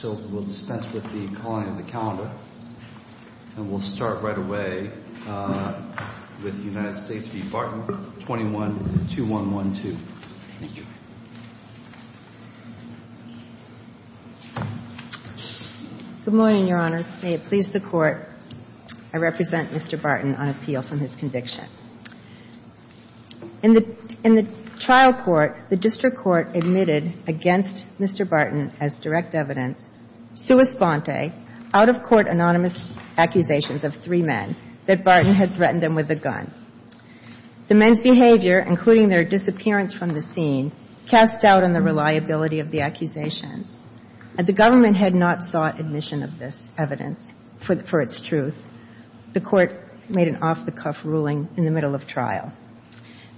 21-2112. Thank you. Good morning, Your Honors. May it please the Court, I represent Mr. Barton on appeal from his conviction. In the trial court, the district court admitted against Mr. Barton as direct evidence, sua sponte, out-of-court anonymous accusations of three men that Barton had threatened them with a gun. The men's behavior, including their disappearance from the scene, cast doubt on the reliability of the accusations. The government had not sought admission of this evidence for its truth. The Court made an off-the-cuff ruling in the middle of trial.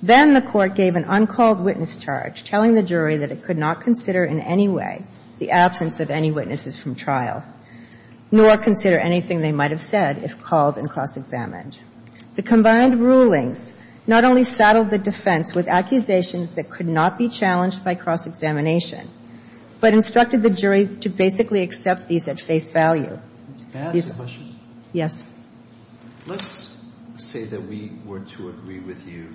Then the Court gave an uncalled witness charge, telling the jury that it could not consider in any way the absence of any witnesses from trial, nor consider anything they might have said if called and cross-examined. The combined rulings not only saddled the defense with accusations that could not be challenged by cross-examination, but instructed the jury to basically accept these at face value. Can I ask a question? Yes. Let's say that we were to agree with you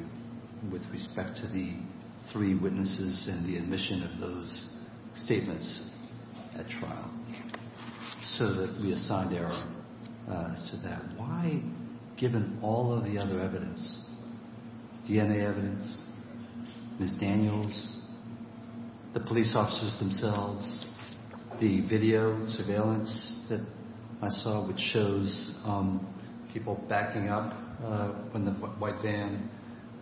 with respect to the three witnesses and the admission of those statements at trial, so that we assigned error to that. Why, given all of the other evidence, DNA evidence, Ms. Daniels, the police officers themselves, the people backing up when the white van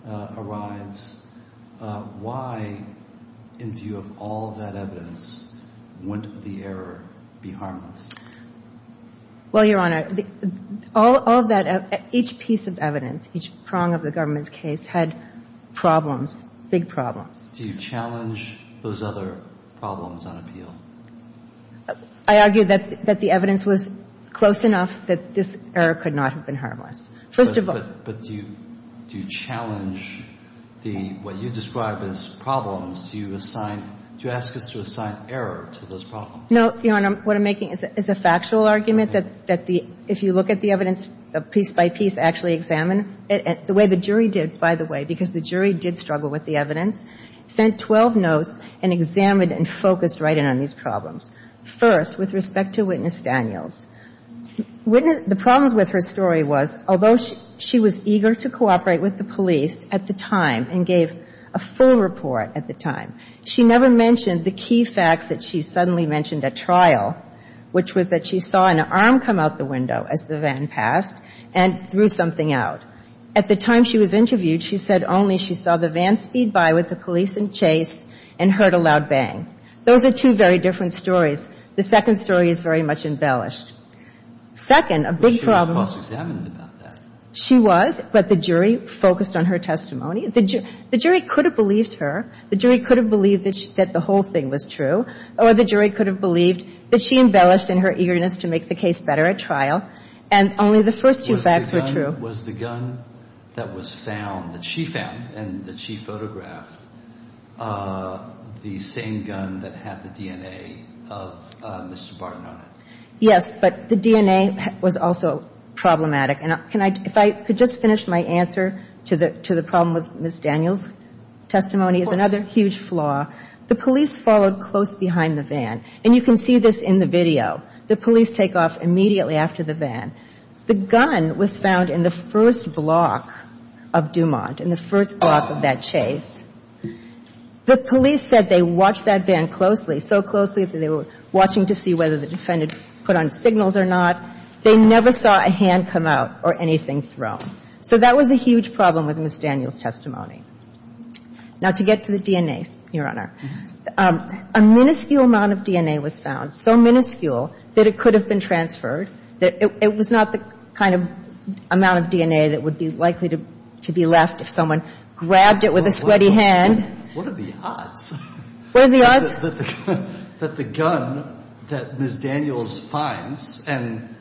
arrives, why, in view of all of that evidence, wouldn't the error be harmless? Well, Your Honor, all of that, each piece of evidence, each prong of the government's case, had problems, big problems. Do you challenge those other problems on appeal? I argue that the evidence was close enough that this error could not have been harmless. First of all But do you challenge the, what you describe as problems, do you assign, do you ask us to assign error to those problems? No, Your Honor. What I'm making is a factual argument that the, if you look at the evidence piece by piece, actually examined, the way the jury did, by the way, because the jury did focus right in on these problems. First, with respect to Witness Daniels, the problems with her story was, although she was eager to cooperate with the police at the time and gave a full report at the time, she never mentioned the key facts that she suddenly mentioned at trial, which was that she saw an arm come out the window as the van passed and threw something out. At the time she was interviewed, she said only she saw the van speed by with the police and chase and heard a loud bang. Those are two very different stories. The second story is very much embellished. Second, a big problem She was false examined about that. She was, but the jury focused on her testimony. The jury could have believed her. The jury could have believed that the whole thing was true, or the jury could have believed that she embellished in her eagerness to make the case better at trial. And only the first two facts were true. But was the gun that was found, that she found and that she photographed, the same gun that had the DNA of Mr. Barton on it? Yes, but the DNA was also problematic. And if I could just finish my answer to the problem with Ms. Daniels' testimony is another huge flaw. The police followed close behind the van, and you can see this in the video. The police take off immediately after the van. The gun was found in the first block of Dumont, in the first block of that chase. The police said they watched that van closely, so closely that they were watching to see whether the defendant put on signals or not. They never saw a hand come out or anything thrown. So that was a huge problem with Ms. Daniels' testimony. Now, to get to the DNA, Your Honor, a minuscule amount of DNA was found, so minuscule that it could have been transferred. It was not the kind of amount of DNA that would be likely to be left if someone grabbed it with a sweaty hand. What are the odds? What are the odds? That the gun that Ms. Daniels finds, and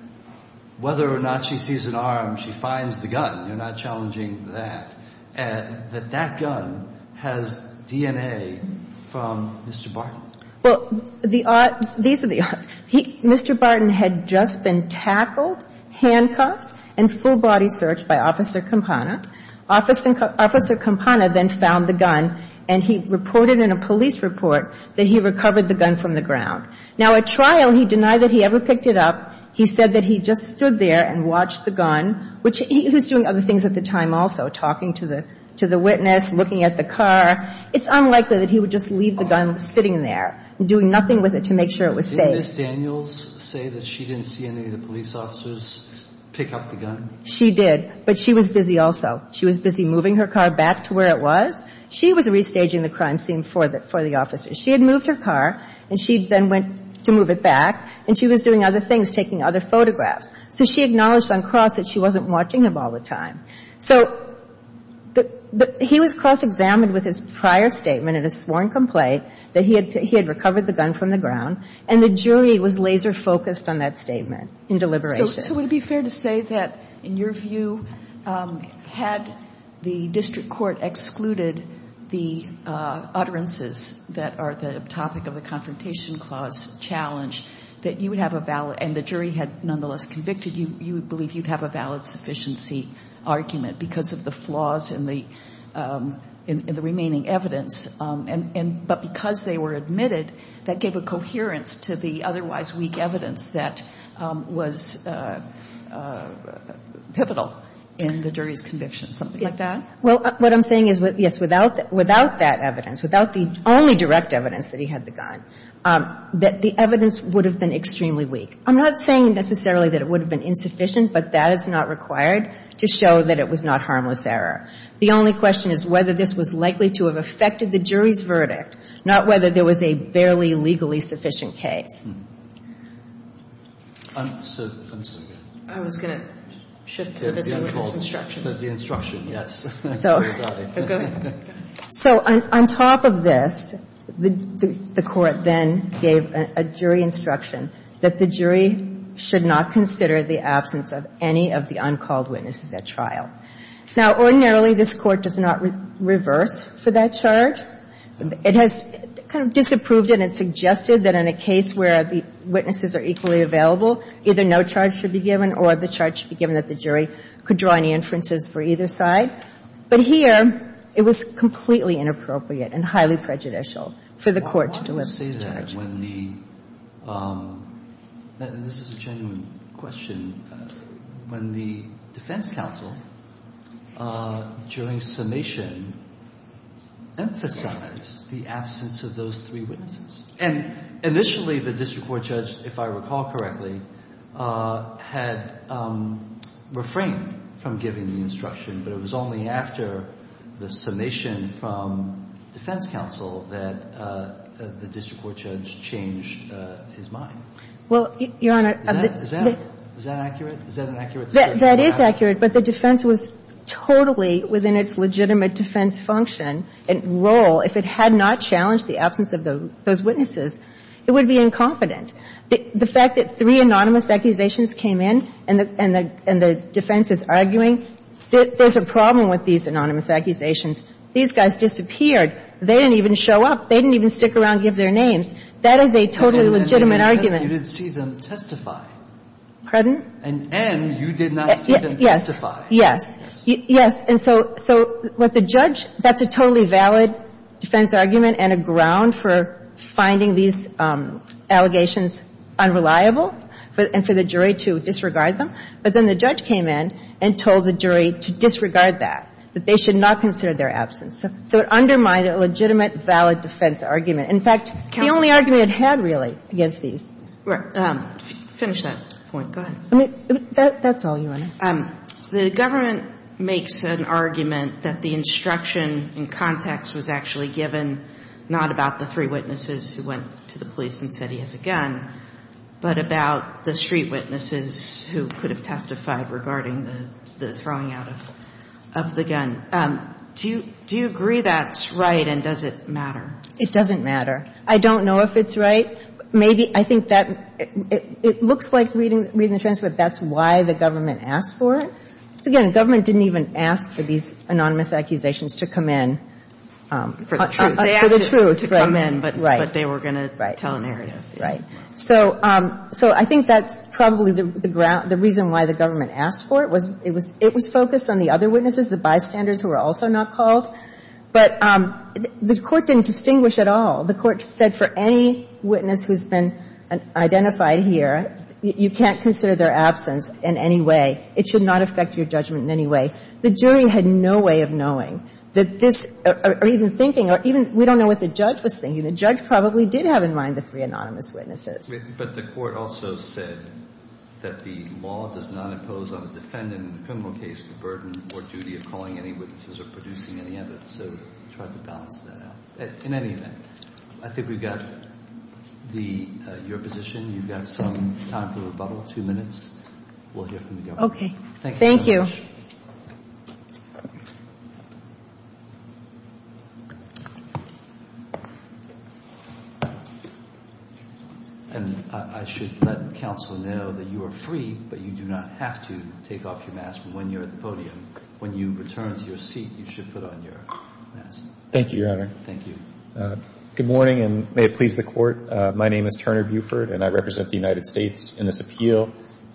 whether or not she sees an arm, she finds the gun. You're not challenging that. And that that gun has DNA from Mr. Barton. Well, the odds, these are the odds. Mr. Barton had just been tackled, handcuffed, and full body searched by Officer Campana. Officer Campana then found the gun, and he reported in a police report that he recovered the gun from the ground. Now, at trial, he denied that he ever picked it up. He said that he just stood there and watched the gun, which he was doing other things at the time also, talking to the witness, looking at the car. It's unlikely that he would just leave the gun sitting there, doing nothing with it to make sure it was safe. Did Ms. Daniels say that she didn't see any of the police officers pick up the gun? She did, but she was busy also. She was busy moving her car back to where it was. She was restaging the crime scene for the officers. She had moved her car, and she then went to move it back, and she was doing other things, taking other photographs. So she acknowledged on cross that she wasn't watching them all the time. So he was cross-examined with his prior statement in his sworn complaint that he had recovered the gun from the ground, and the jury was laser-focused on that statement in deliberation. So would it be fair to say that, in your view, had the district court excluded the utterances that are the topic of the Confrontation Clause challenge, that you would have a valid, and the jury had nonetheless convicted you, you would believe you'd have a valid sufficiency argument because of the flaws in the remaining evidence, but because they were admitted, that gave a coherence to the otherwise weak evidence that was pivotal in the jury's conviction, something like that? Well, what I'm saying is, yes, without that evidence, without the only direct evidence that he had the gun, that the evidence would have been extremely weak. I'm not saying necessarily that it would have been insufficient, but that is not required to show that it was not harmless error. The only question is whether this was likely to have affected the jury's verdict, not whether there was a barely legally sufficient case. I'm sorry. I was going to shift to this one with this instruction. The instruction, yes. So go ahead. So on top of this, the Court then gave a jury instruction that the jury should not consider the absence of any of the uncalled witnesses at trial. Now, ordinarily, this Court does not reverse for that charge. It has kind of disapproved it and suggested that in a case where the witnesses are equally available, either no charge should be given or the charge should be given that the jury could draw any inferences for either side. But here, it was completely inappropriate and highly prejudicial for the Court to do it. I want to say that when the – and this is a genuine question – when the defense counsel during summation emphasized the absence of those three witnesses. And initially, the district court judge, if I recall correctly, had refrained from giving the instruction, but it was only after the summation from defense counsel that the district court judge changed his mind. Well, Your Honor, the – Is that accurate? Is that an accurate suggestion? That is accurate, but the defense was totally within its legitimate defense function and role if it had not challenged the absence of those witnesses. It would be incompetent. The fact that three anonymous accusations came in and the defense is arguing, there's a problem with these anonymous accusations. These guys disappeared. They didn't even show up. They didn't even stick around and give their names. That is a totally legitimate argument. And you didn't see them testify. Pardon? And you did not see them testify. Yes. Yes. Yes. And so what the judge – that's a totally valid defense argument and a ground for finding these allegations unreliable and for the jury to disregard them. But then the judge came in and told the jury to disregard that, that they should not consider their absence. So it undermined a legitimate, valid defense argument. In fact, the only argument it had, really, against these – Finish that point. Go ahead. That's all, Your Honor. The government makes an argument that the instruction in context was actually given not about the three witnesses who went to the police and said he has a gun, but about the street witnesses who could have testified regarding the throwing out of the gun. Do you agree that's right and does it matter? It doesn't matter. I don't know if it's right. Maybe – I think that – it looks like, reading the transcript, that's why the government asked for it. Because, again, the government didn't even ask for these anonymous accusations to come in. For the truth. For the truth. To come in. Right. But they were going to tell an area. Right. So I think that's probably the reason why the government asked for it. It was focused on the other witnesses, the bystanders who were also not called. But the Court didn't distinguish at all. The Court said for any witness who's been identified here, you can't consider their absence in any way. It should not affect your judgment in any way. The jury had no way of knowing that this – or even thinking – or even – we don't know what the judge was thinking. The judge probably did have in mind the three anonymous witnesses. But the Court also said that the law does not impose on a defendant in a criminal case the burden or duty of calling any witnesses or producing any evidence. So we tried to balance that out. In any event, I think we've got the – your position. You've got some time for rebuttal. Two minutes. We'll hear from the government. Okay. Thank you so much. Thank you. And I should let counsel know that you are free, but you do not have to take off your mask when you're at the podium. When you return to your seat, you should put on your mask. Thank you, Your Honor. Thank you. Good morning, and may it please the Court. My name is Turner Buford, and I represent the United States in this appeal.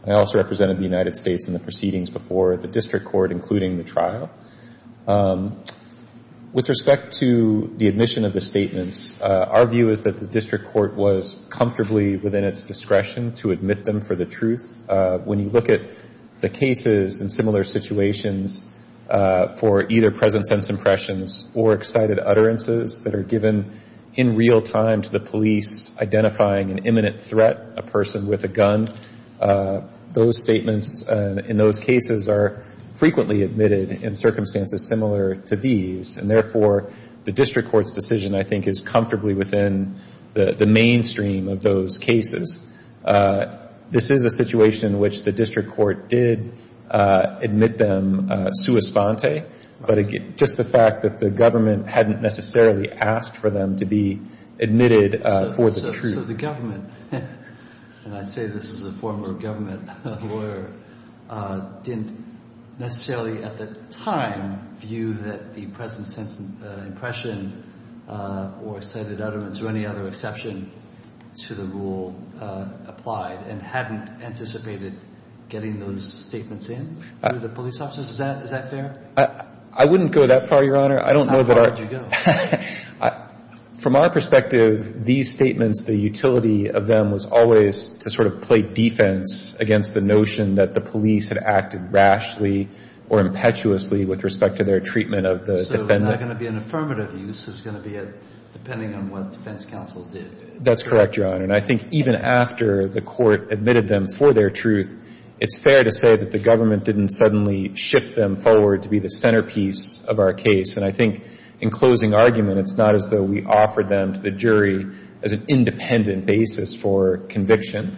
I also represented the United States in the proceedings before the district court, including the trial. With respect to the admission of the statements, our view is that the district court was comfortably within its discretion to admit them for the truth. When you look at the cases and similar situations for either present sense impressions or excited utterances that are given in real time to the police identifying an imminent threat, a person with a gun, those statements in those cases are frequently admitted in circumstances similar to these. And therefore, the district court's decision, I think, is comfortably within the mainstream of those cases. This is a situation in which the district court did admit them sua sponte, but just the fact that the government hadn't necessarily asked for them to be admitted for the truth. So the government, and I say this as a former government lawyer, didn't necessarily at the time view that the present sense impression or excited utterance or any other exception to the rule applied and hadn't anticipated getting those statements in through the police officers? Is that fair? I wouldn't go that far, Your Honor. How far did you go? From our perspective, these statements, the utility of them was always to sort of play defense against the notion that the police had acted rashly or impetuously with respect to their treatment of the defendant. So it's not going to be an affirmative use. It's going to be a depending on what defense counsel did. That's correct, Your Honor. And I think even after the court admitted them for their truth, it's fair to say that the government didn't suddenly shift them forward to be the centerpiece of our case. And I think in closing argument, it's not as though we offered them to the jury as an independent basis for conviction.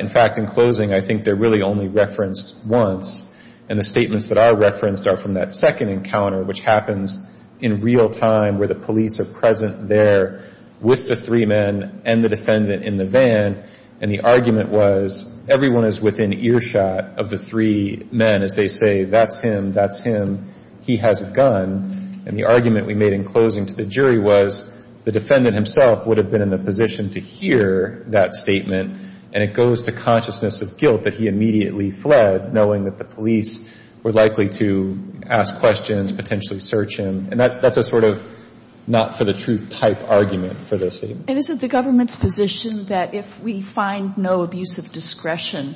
In fact, in closing, I think they're really only referenced once. And the statements that are referenced are from that second encounter, which happens in real time where the police are present there with the three men and the defendant in the van. And the argument was everyone is within earshot of the three men as they say, that's him, that's him, he has a gun. And the argument we made in closing to the jury was the defendant himself would have been in a position to hear that statement. And it goes to consciousness of guilt that he immediately fled, knowing that the police were likely to ask questions, potentially search him. And that's a sort of not-for-the-truth type argument for those statements. And is it the government's position that if we find no abuse of discretion,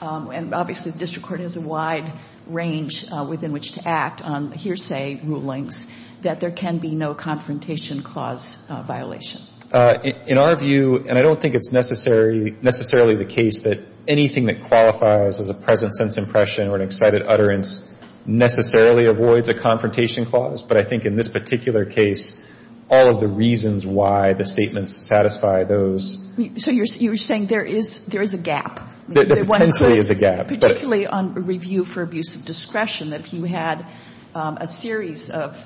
and obviously the district court has a wide range within which to act on hearsay rulings, that there can be no confrontation clause violation? In our view, and I don't think it's necessarily the case that anything that qualifies as a present sense impression or an excited utterance necessarily avoids a confrontation clause. But I think in this particular case, all of the reasons why the statements satisfy those. So you're saying there is a gap? There potentially is a gap. Particularly on review for abuse of discretion, if you had a series of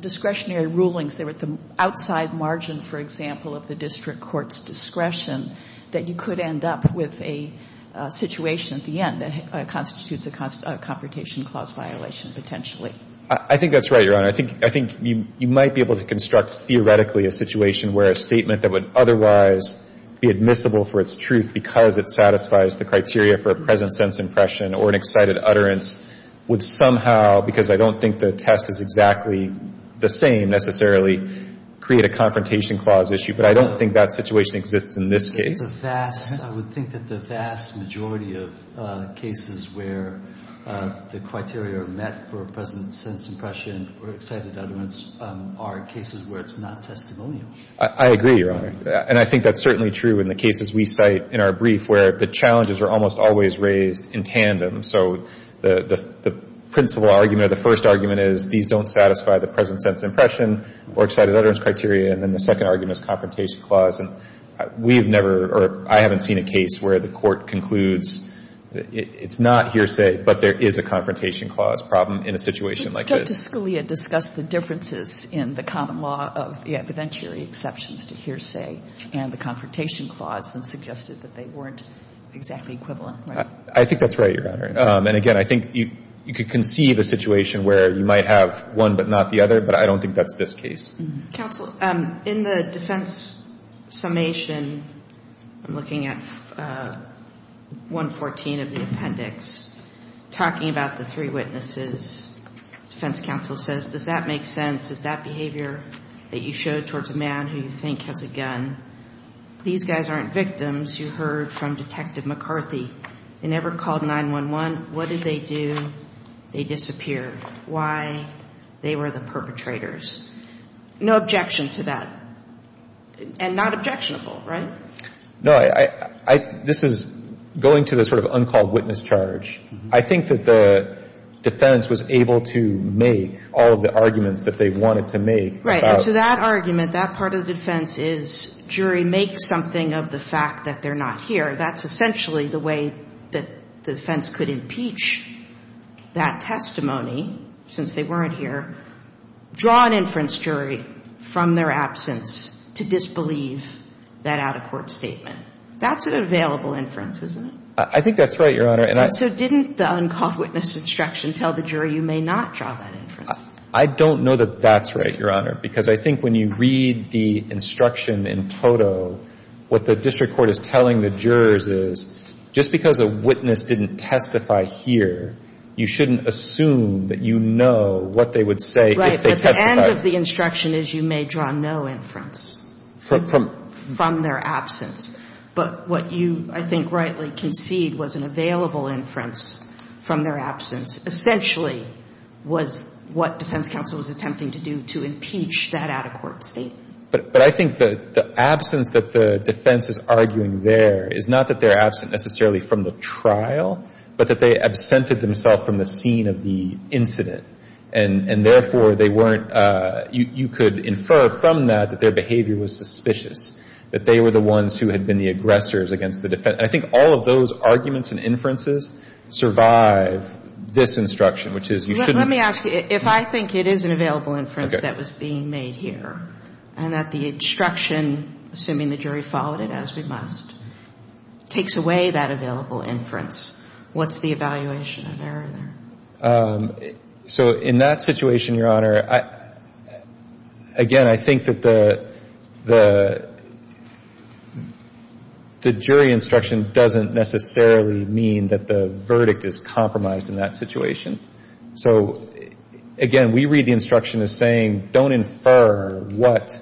discretionary rulings that were at the outside margin, for example, of the district court's discretion, that you could end up with a situation at the end that constitutes a confrontation clause violation potentially? I think that's right, Your Honor. I think you might be able to construct theoretically a situation where a statement that would otherwise be admissible for its truth because it satisfies the criteria for a present sense impression or an excited utterance would somehow, because I don't think the test is exactly the same necessarily, create a confrontation clause issue. But I don't think that situation exists in this case. I would think that the vast majority of cases where the criteria are met for a present sense impression or excited utterance are cases where it's not testimonial. I agree, Your Honor. And I think that's certainly true in the cases we cite in our brief where the challenges are almost always raised in tandem. So the principal argument or the first argument is these don't satisfy the present sense impression or excited utterance criteria. And then the second argument is confrontation clause. And we have never or I haven't seen a case where the court concludes it's not hearsay but there is a confrontation clause problem in a situation like this. Didn't Justice Scalia discuss the differences in the common law of the evidentiary exceptions to hearsay and the confrontation clause and suggested that they weren't exactly equivalent, right? I think that's right, Your Honor. And again, I think you could conceive a situation where you might have one but not the other, but I don't think that's this case. Counsel, in the defense summation, I'm looking at 114 of the appendix, talking about the three witnesses. Defense counsel says, does that make sense? Is that behavior that you showed towards a man who you think has a gun? These guys aren't victims. You heard from Detective McCarthy. They never called 911. What did they do? They disappeared. Why? They were the perpetrators. No objection to that. And not objectionable, right? No. This is going to the sort of uncalled witness charge. I think that the defense was able to make all of the arguments that they wanted to make. Right. And so that argument, that part of the defense is jury, make something of the fact that they're not here. That's essentially the way that the defense could impeach that testimony, since they weren't here, draw an inference jury from their absence to disbelieve that out-of-court statement. That's an available inference, isn't it? I think that's right, Your Honor. And so didn't the uncalled witness instruction tell the jury you may not draw that inference? I don't know that that's right, Your Honor, because I think when you read the instruction in toto, what the district court is telling the jurors is just because a witness didn't testify here, you shouldn't assume that you know what they would say if they testified. Right. But the end of the instruction is you may draw no inference from their absence. But what you, I think, rightly concede was an available inference from their absence essentially was what defense counsel was attempting to do to impeach that out-of-court statement. But I think the absence that the defense is arguing there is not that they're absent necessarily from the trial, but that they absented themselves from the scene of the incident. And therefore, they weren't, you could infer from that that their behavior was suspicious, that they were the ones who had been the aggressors against the defense. And I think all of those arguments and inferences survive this instruction, which is you shouldn't. Let me ask you, if I think it is an available inference that was being made here and that the instruction, assuming the jury followed it as we must, takes away that available inference, what's the evaluation of error there? So in that situation, Your Honor, again, I think that the jury instruction doesn't necessarily mean that the verdict is compromised in that situation. So, again, we read the instruction as saying don't infer what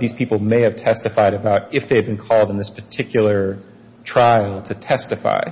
these people may have testified about if they had been called in this particular trial to testify.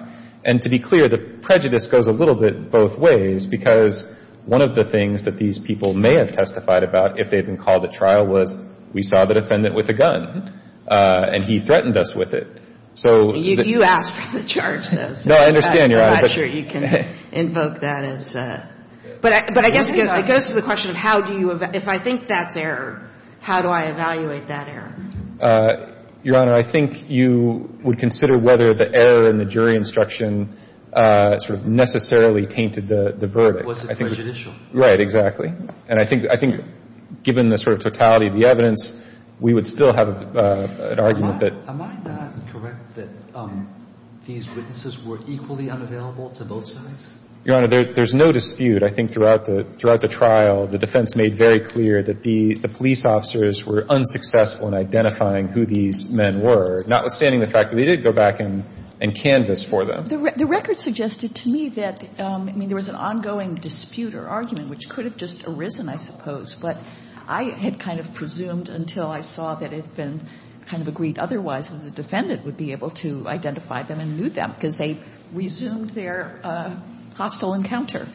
And to be clear, the prejudice goes a little bit both ways, because one of the things that these people may have testified about if they had been called at trial was we saw the defendant with a gun and he threatened us with it. So the — You asked for the charge, though. No, I understand, Your Honor. I'm not sure you can invoke that as a — But I guess it goes to the question of how do you — if I think that's error, how do I evaluate that error? Your Honor, I think you would consider whether the error in the jury instruction sort of necessarily tainted the verdict. Was it prejudicial? Right, exactly. And I think given the sort of totality of the evidence, we would still have an argument that — Am I not correct that these witnesses were equally unavailable to both sides? Your Honor, there's no dispute. I think throughout the trial, the defense made very clear that the police officers were unsuccessful in identifying who these men were, notwithstanding the fact that they did go back and canvas for them. The record suggested to me that, I mean, there was an ongoing dispute or argument, which could have just arisen, I suppose. But I had kind of presumed until I saw that it had been kind of agreed otherwise that the defendant would be able to identify them and knew them, because they resumed their hostile encounter.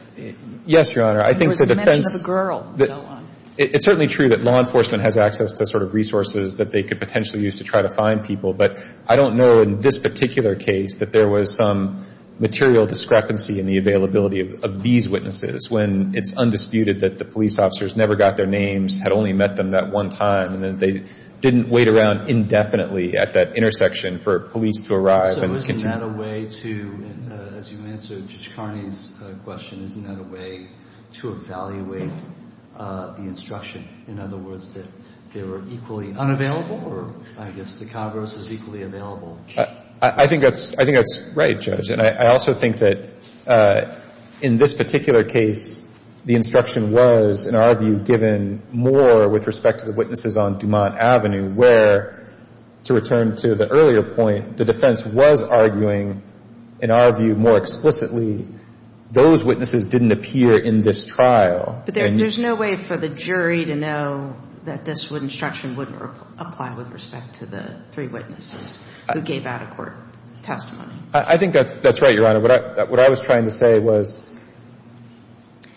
Yes, Your Honor. There was mention of a girl and so on. It's certainly true that law enforcement has access to sort of resources that they could potentially use to try to find people. But I don't know in this particular case that there was some material discrepancy in the availability of these witnesses when it's undisputed that the police officers never got their names, had only met them that one time, and that they didn't wait around indefinitely at that intersection for police to arrive and continue. Isn't that a way to, as you answered Judge Carney's question, isn't that a way to evaluate the instruction? In other words, that they were equally unavailable, or I guess the Congress was equally available? I think that's right, Judge. And I also think that in this particular case, the instruction was, in our view, given more with respect to the witnesses on Dumont Avenue, where, to return to the earlier point, the defense was arguing, in our view more explicitly, those witnesses didn't appear in this trial. But there's no way for the jury to know that this instruction wouldn't apply with respect to the three witnesses who gave out-of-court testimony. I think that's right, Your Honor. What I was trying to say was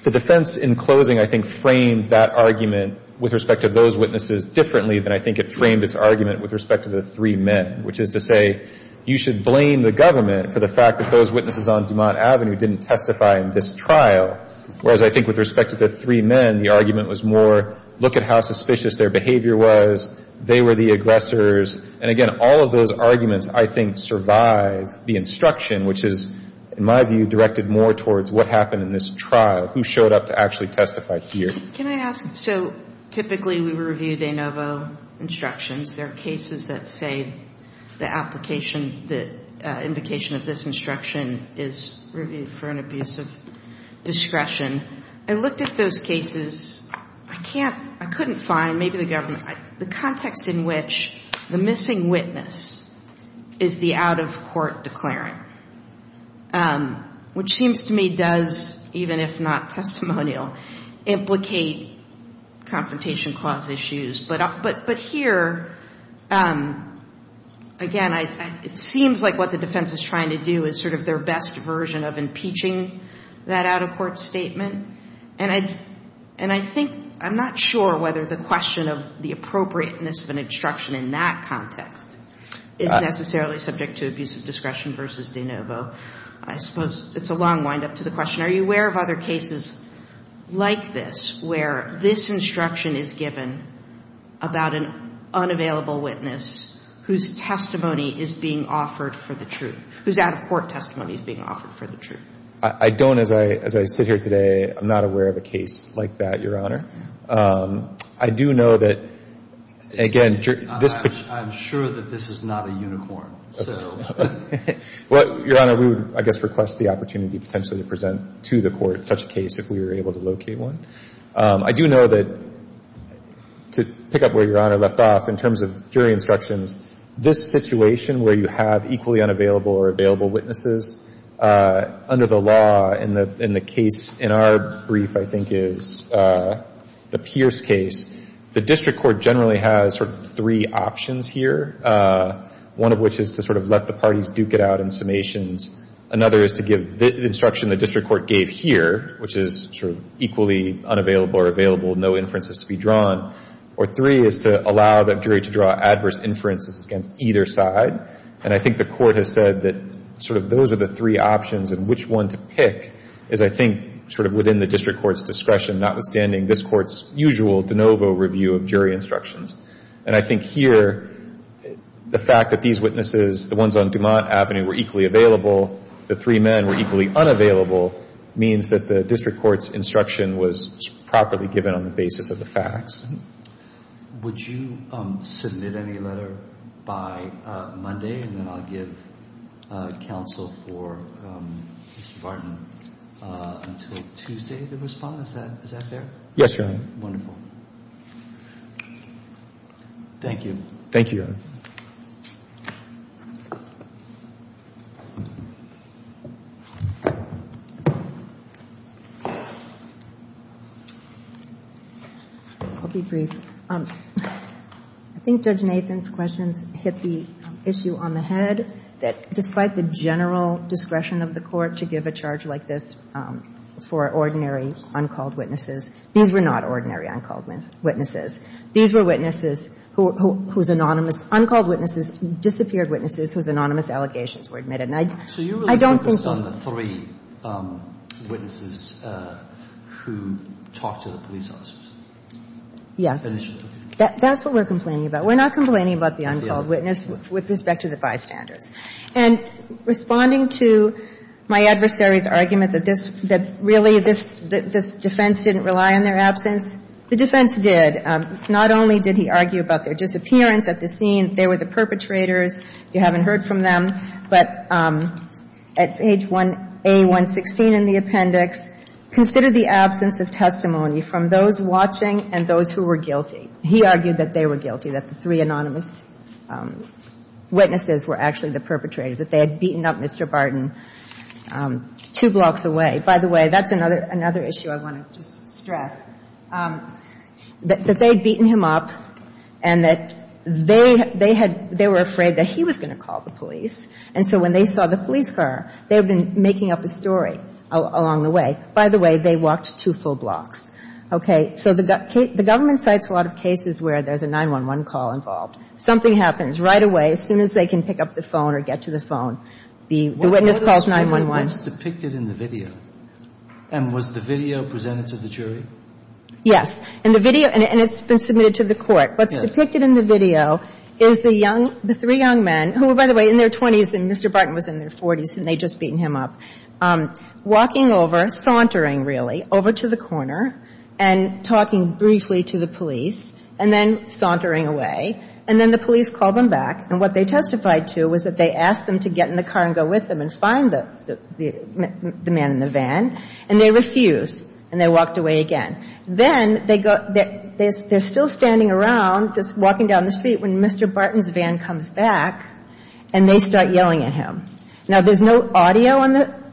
the defense in closing, I think, framed that argument with respect to those witnesses differently than I think it framed its argument with respect to the three men, which is to say, you should blame the government for the fact that those witnesses on Dumont Avenue didn't testify in this trial. Whereas I think with respect to the three men, the argument was more, look at how suspicious their behavior was. They were the aggressors. And again, all of those arguments, I think, survive the instruction, which is, in my view, directed more towards what happened in this trial, who showed up to actually testify here. Can I ask, so typically we review de novo instructions. There are cases that say the application, the invocation of this instruction is reviewed for an abuse of discretion. I looked at those cases. I can't, I couldn't find, maybe the government, the context in which the missing witness is the out-of-court declaring, which seems to me does, even if not testimonial, implicate confrontation clause issues. But here, again, it seems like what the defense is trying to do is sort of their best version of impeaching that out-of-court statement. And I think, I'm not sure whether the question of the appropriateness of an instruction in that context is necessarily subject to abuse of discretion versus de novo. I suppose it's a long windup to the question, are you aware of other cases like this where this instruction is given about an unavailable witness whose testimony is being offered for the truth, whose out-of-court testimony is being offered for the truth? I don't. As I sit here today, I'm not aware of a case like that, Your Honor. I do know that, again, this ---- I'm sure that this is not a unicorn. Well, Your Honor, we would, I guess, request the opportunity potentially to present to the court such a case if we were able to locate one. I do know that, to pick up where Your Honor left off, in terms of jury instructions, this situation where you have equally unavailable or available witnesses, under the law, and the case in our brief, I think, is the Pierce case, the district court generally has sort of three options here, one of which is to sort of let the parties duke it out in summations, another is to give the instruction the district court gave here, which is sort of equally unavailable or available, no inferences to be drawn, or three is to allow the jury to draw adverse inferences against either side. And I think the court has said that sort of those are the three options, and which one to pick is, I think, sort of within the district court's discretion, notwithstanding this court's usual de novo review of jury instructions. And I think here the fact that these witnesses, the ones on Dumont Avenue, were equally available, the three men were equally unavailable, means that the district court's instruction was properly given on the basis of the facts. Would you submit any letter by Monday, and then I'll give counsel for Mr. Barton until Tuesday to respond? Is that fair? Yes, Your Honor. Wonderful. Thank you. Thank you, Your Honor. I'll be brief. I think Judge Nathan's questions hit the issue on the head, that despite the general discretion of the court to give a charge like this for ordinary uncalled witnesses, these were not ordinary uncalled witnesses. These were witnesses whose anonymous, uncalled witnesses, disappeared witnesses whose anonymous allegations were admitted. And I don't think he So you really focused on the three witnesses who talked to the police officers? Yes. Initially. That's what we're complaining about. We're not complaining about the uncalled witness with respect to the bystanders. And responding to my adversary's argument that this, that really this defense didn't rely on their absence, the defense did. Not only did he argue about their disappearance at the scene, they were the perpetrators. You haven't heard from them. But at page 1A116 in the appendix, consider the absence of testimony from those watching and those who were guilty. He argued that they were guilty, that the three anonymous witnesses were actually the perpetrators, that they had beaten up Mr. Barton two blocks away. By the way, that's another issue I want to just stress, that they had beaten him up and that they were afraid that he was going to call the police. And so when they saw the police car, they had been making up a story along the way. By the way, they walked two full blocks. Okay. So the government cites a lot of cases where there's a 911 call involved. Something happens right away as soon as they can pick up the phone or get to the phone. The witness calls 911. What's depicted in the video? And was the video presented to the jury? Yes. In the video, and it's been submitted to the court. Yes. What's depicted in the video is the young, the three young men, who were, by the way, in their 20s and Mr. Barton was in their 40s and they'd just beaten him up, walking over, sauntering really, over to the corner and talking briefly to the police and then sauntering away. And then the police called them back. And what they testified to was that they asked them to get in the car and go with them and find the man in the van. And they refused. And they walked away again. Then they go, they're still standing around just walking down the street when Mr. Barton's van comes back and they start yelling at him. Now, there's no audio on the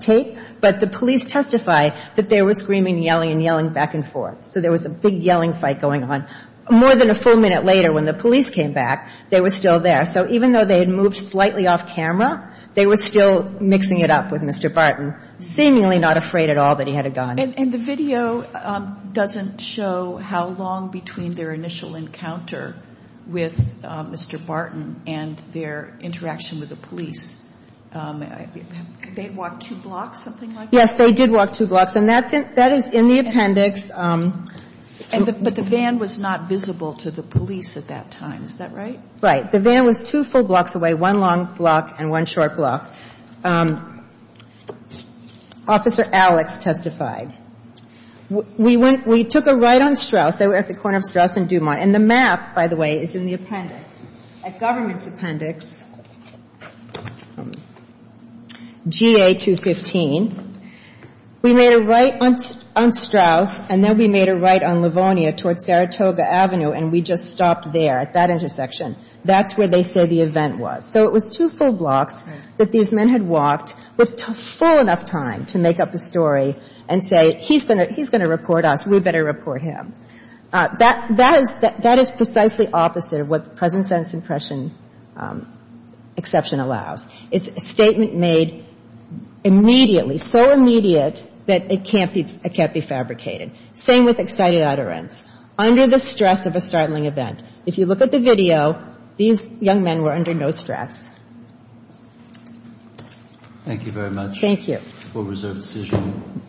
tape, but the police testify that they were screaming and yelling and yelling back and forth. So there was a big yelling fight going on. More than a full minute later when the police came back, they were still there. So even though they had moved slightly off camera, they were still mixing it up with Mr. Barton, seemingly not afraid at all that he had a gun. And the video doesn't show how long between their initial encounter with Mr. Barton and their interaction with the police. They had walked two blocks, something like that? Yes, they did walk two blocks. And that is in the appendix. But the van was not visible to the police at that time. Is that right? Right. The van was two full blocks away, one long block and one short block. Officer Alex testified. We took a right on Straus. They were at the corner of Straus and Dumont. And the map, by the way, is in the appendix. At government's appendix, GA 215, we made a right on Straus, and then we made a right on Livonia toward Saratoga Avenue, and we just stopped there at that intersection. That's where they say the event was. So it was two full blocks that these men had walked with full enough time to make up a story and say he's going to report us, we better report him. That is precisely opposite of what the present sentence impression exception allows. It's a statement made immediately, so immediate that it can't be fabricated. Same with excited utterance. Under the stress of a startling event. If you look at the video, these young men were under no stress. Thank you very much. Thank you. We'll reserve a decision.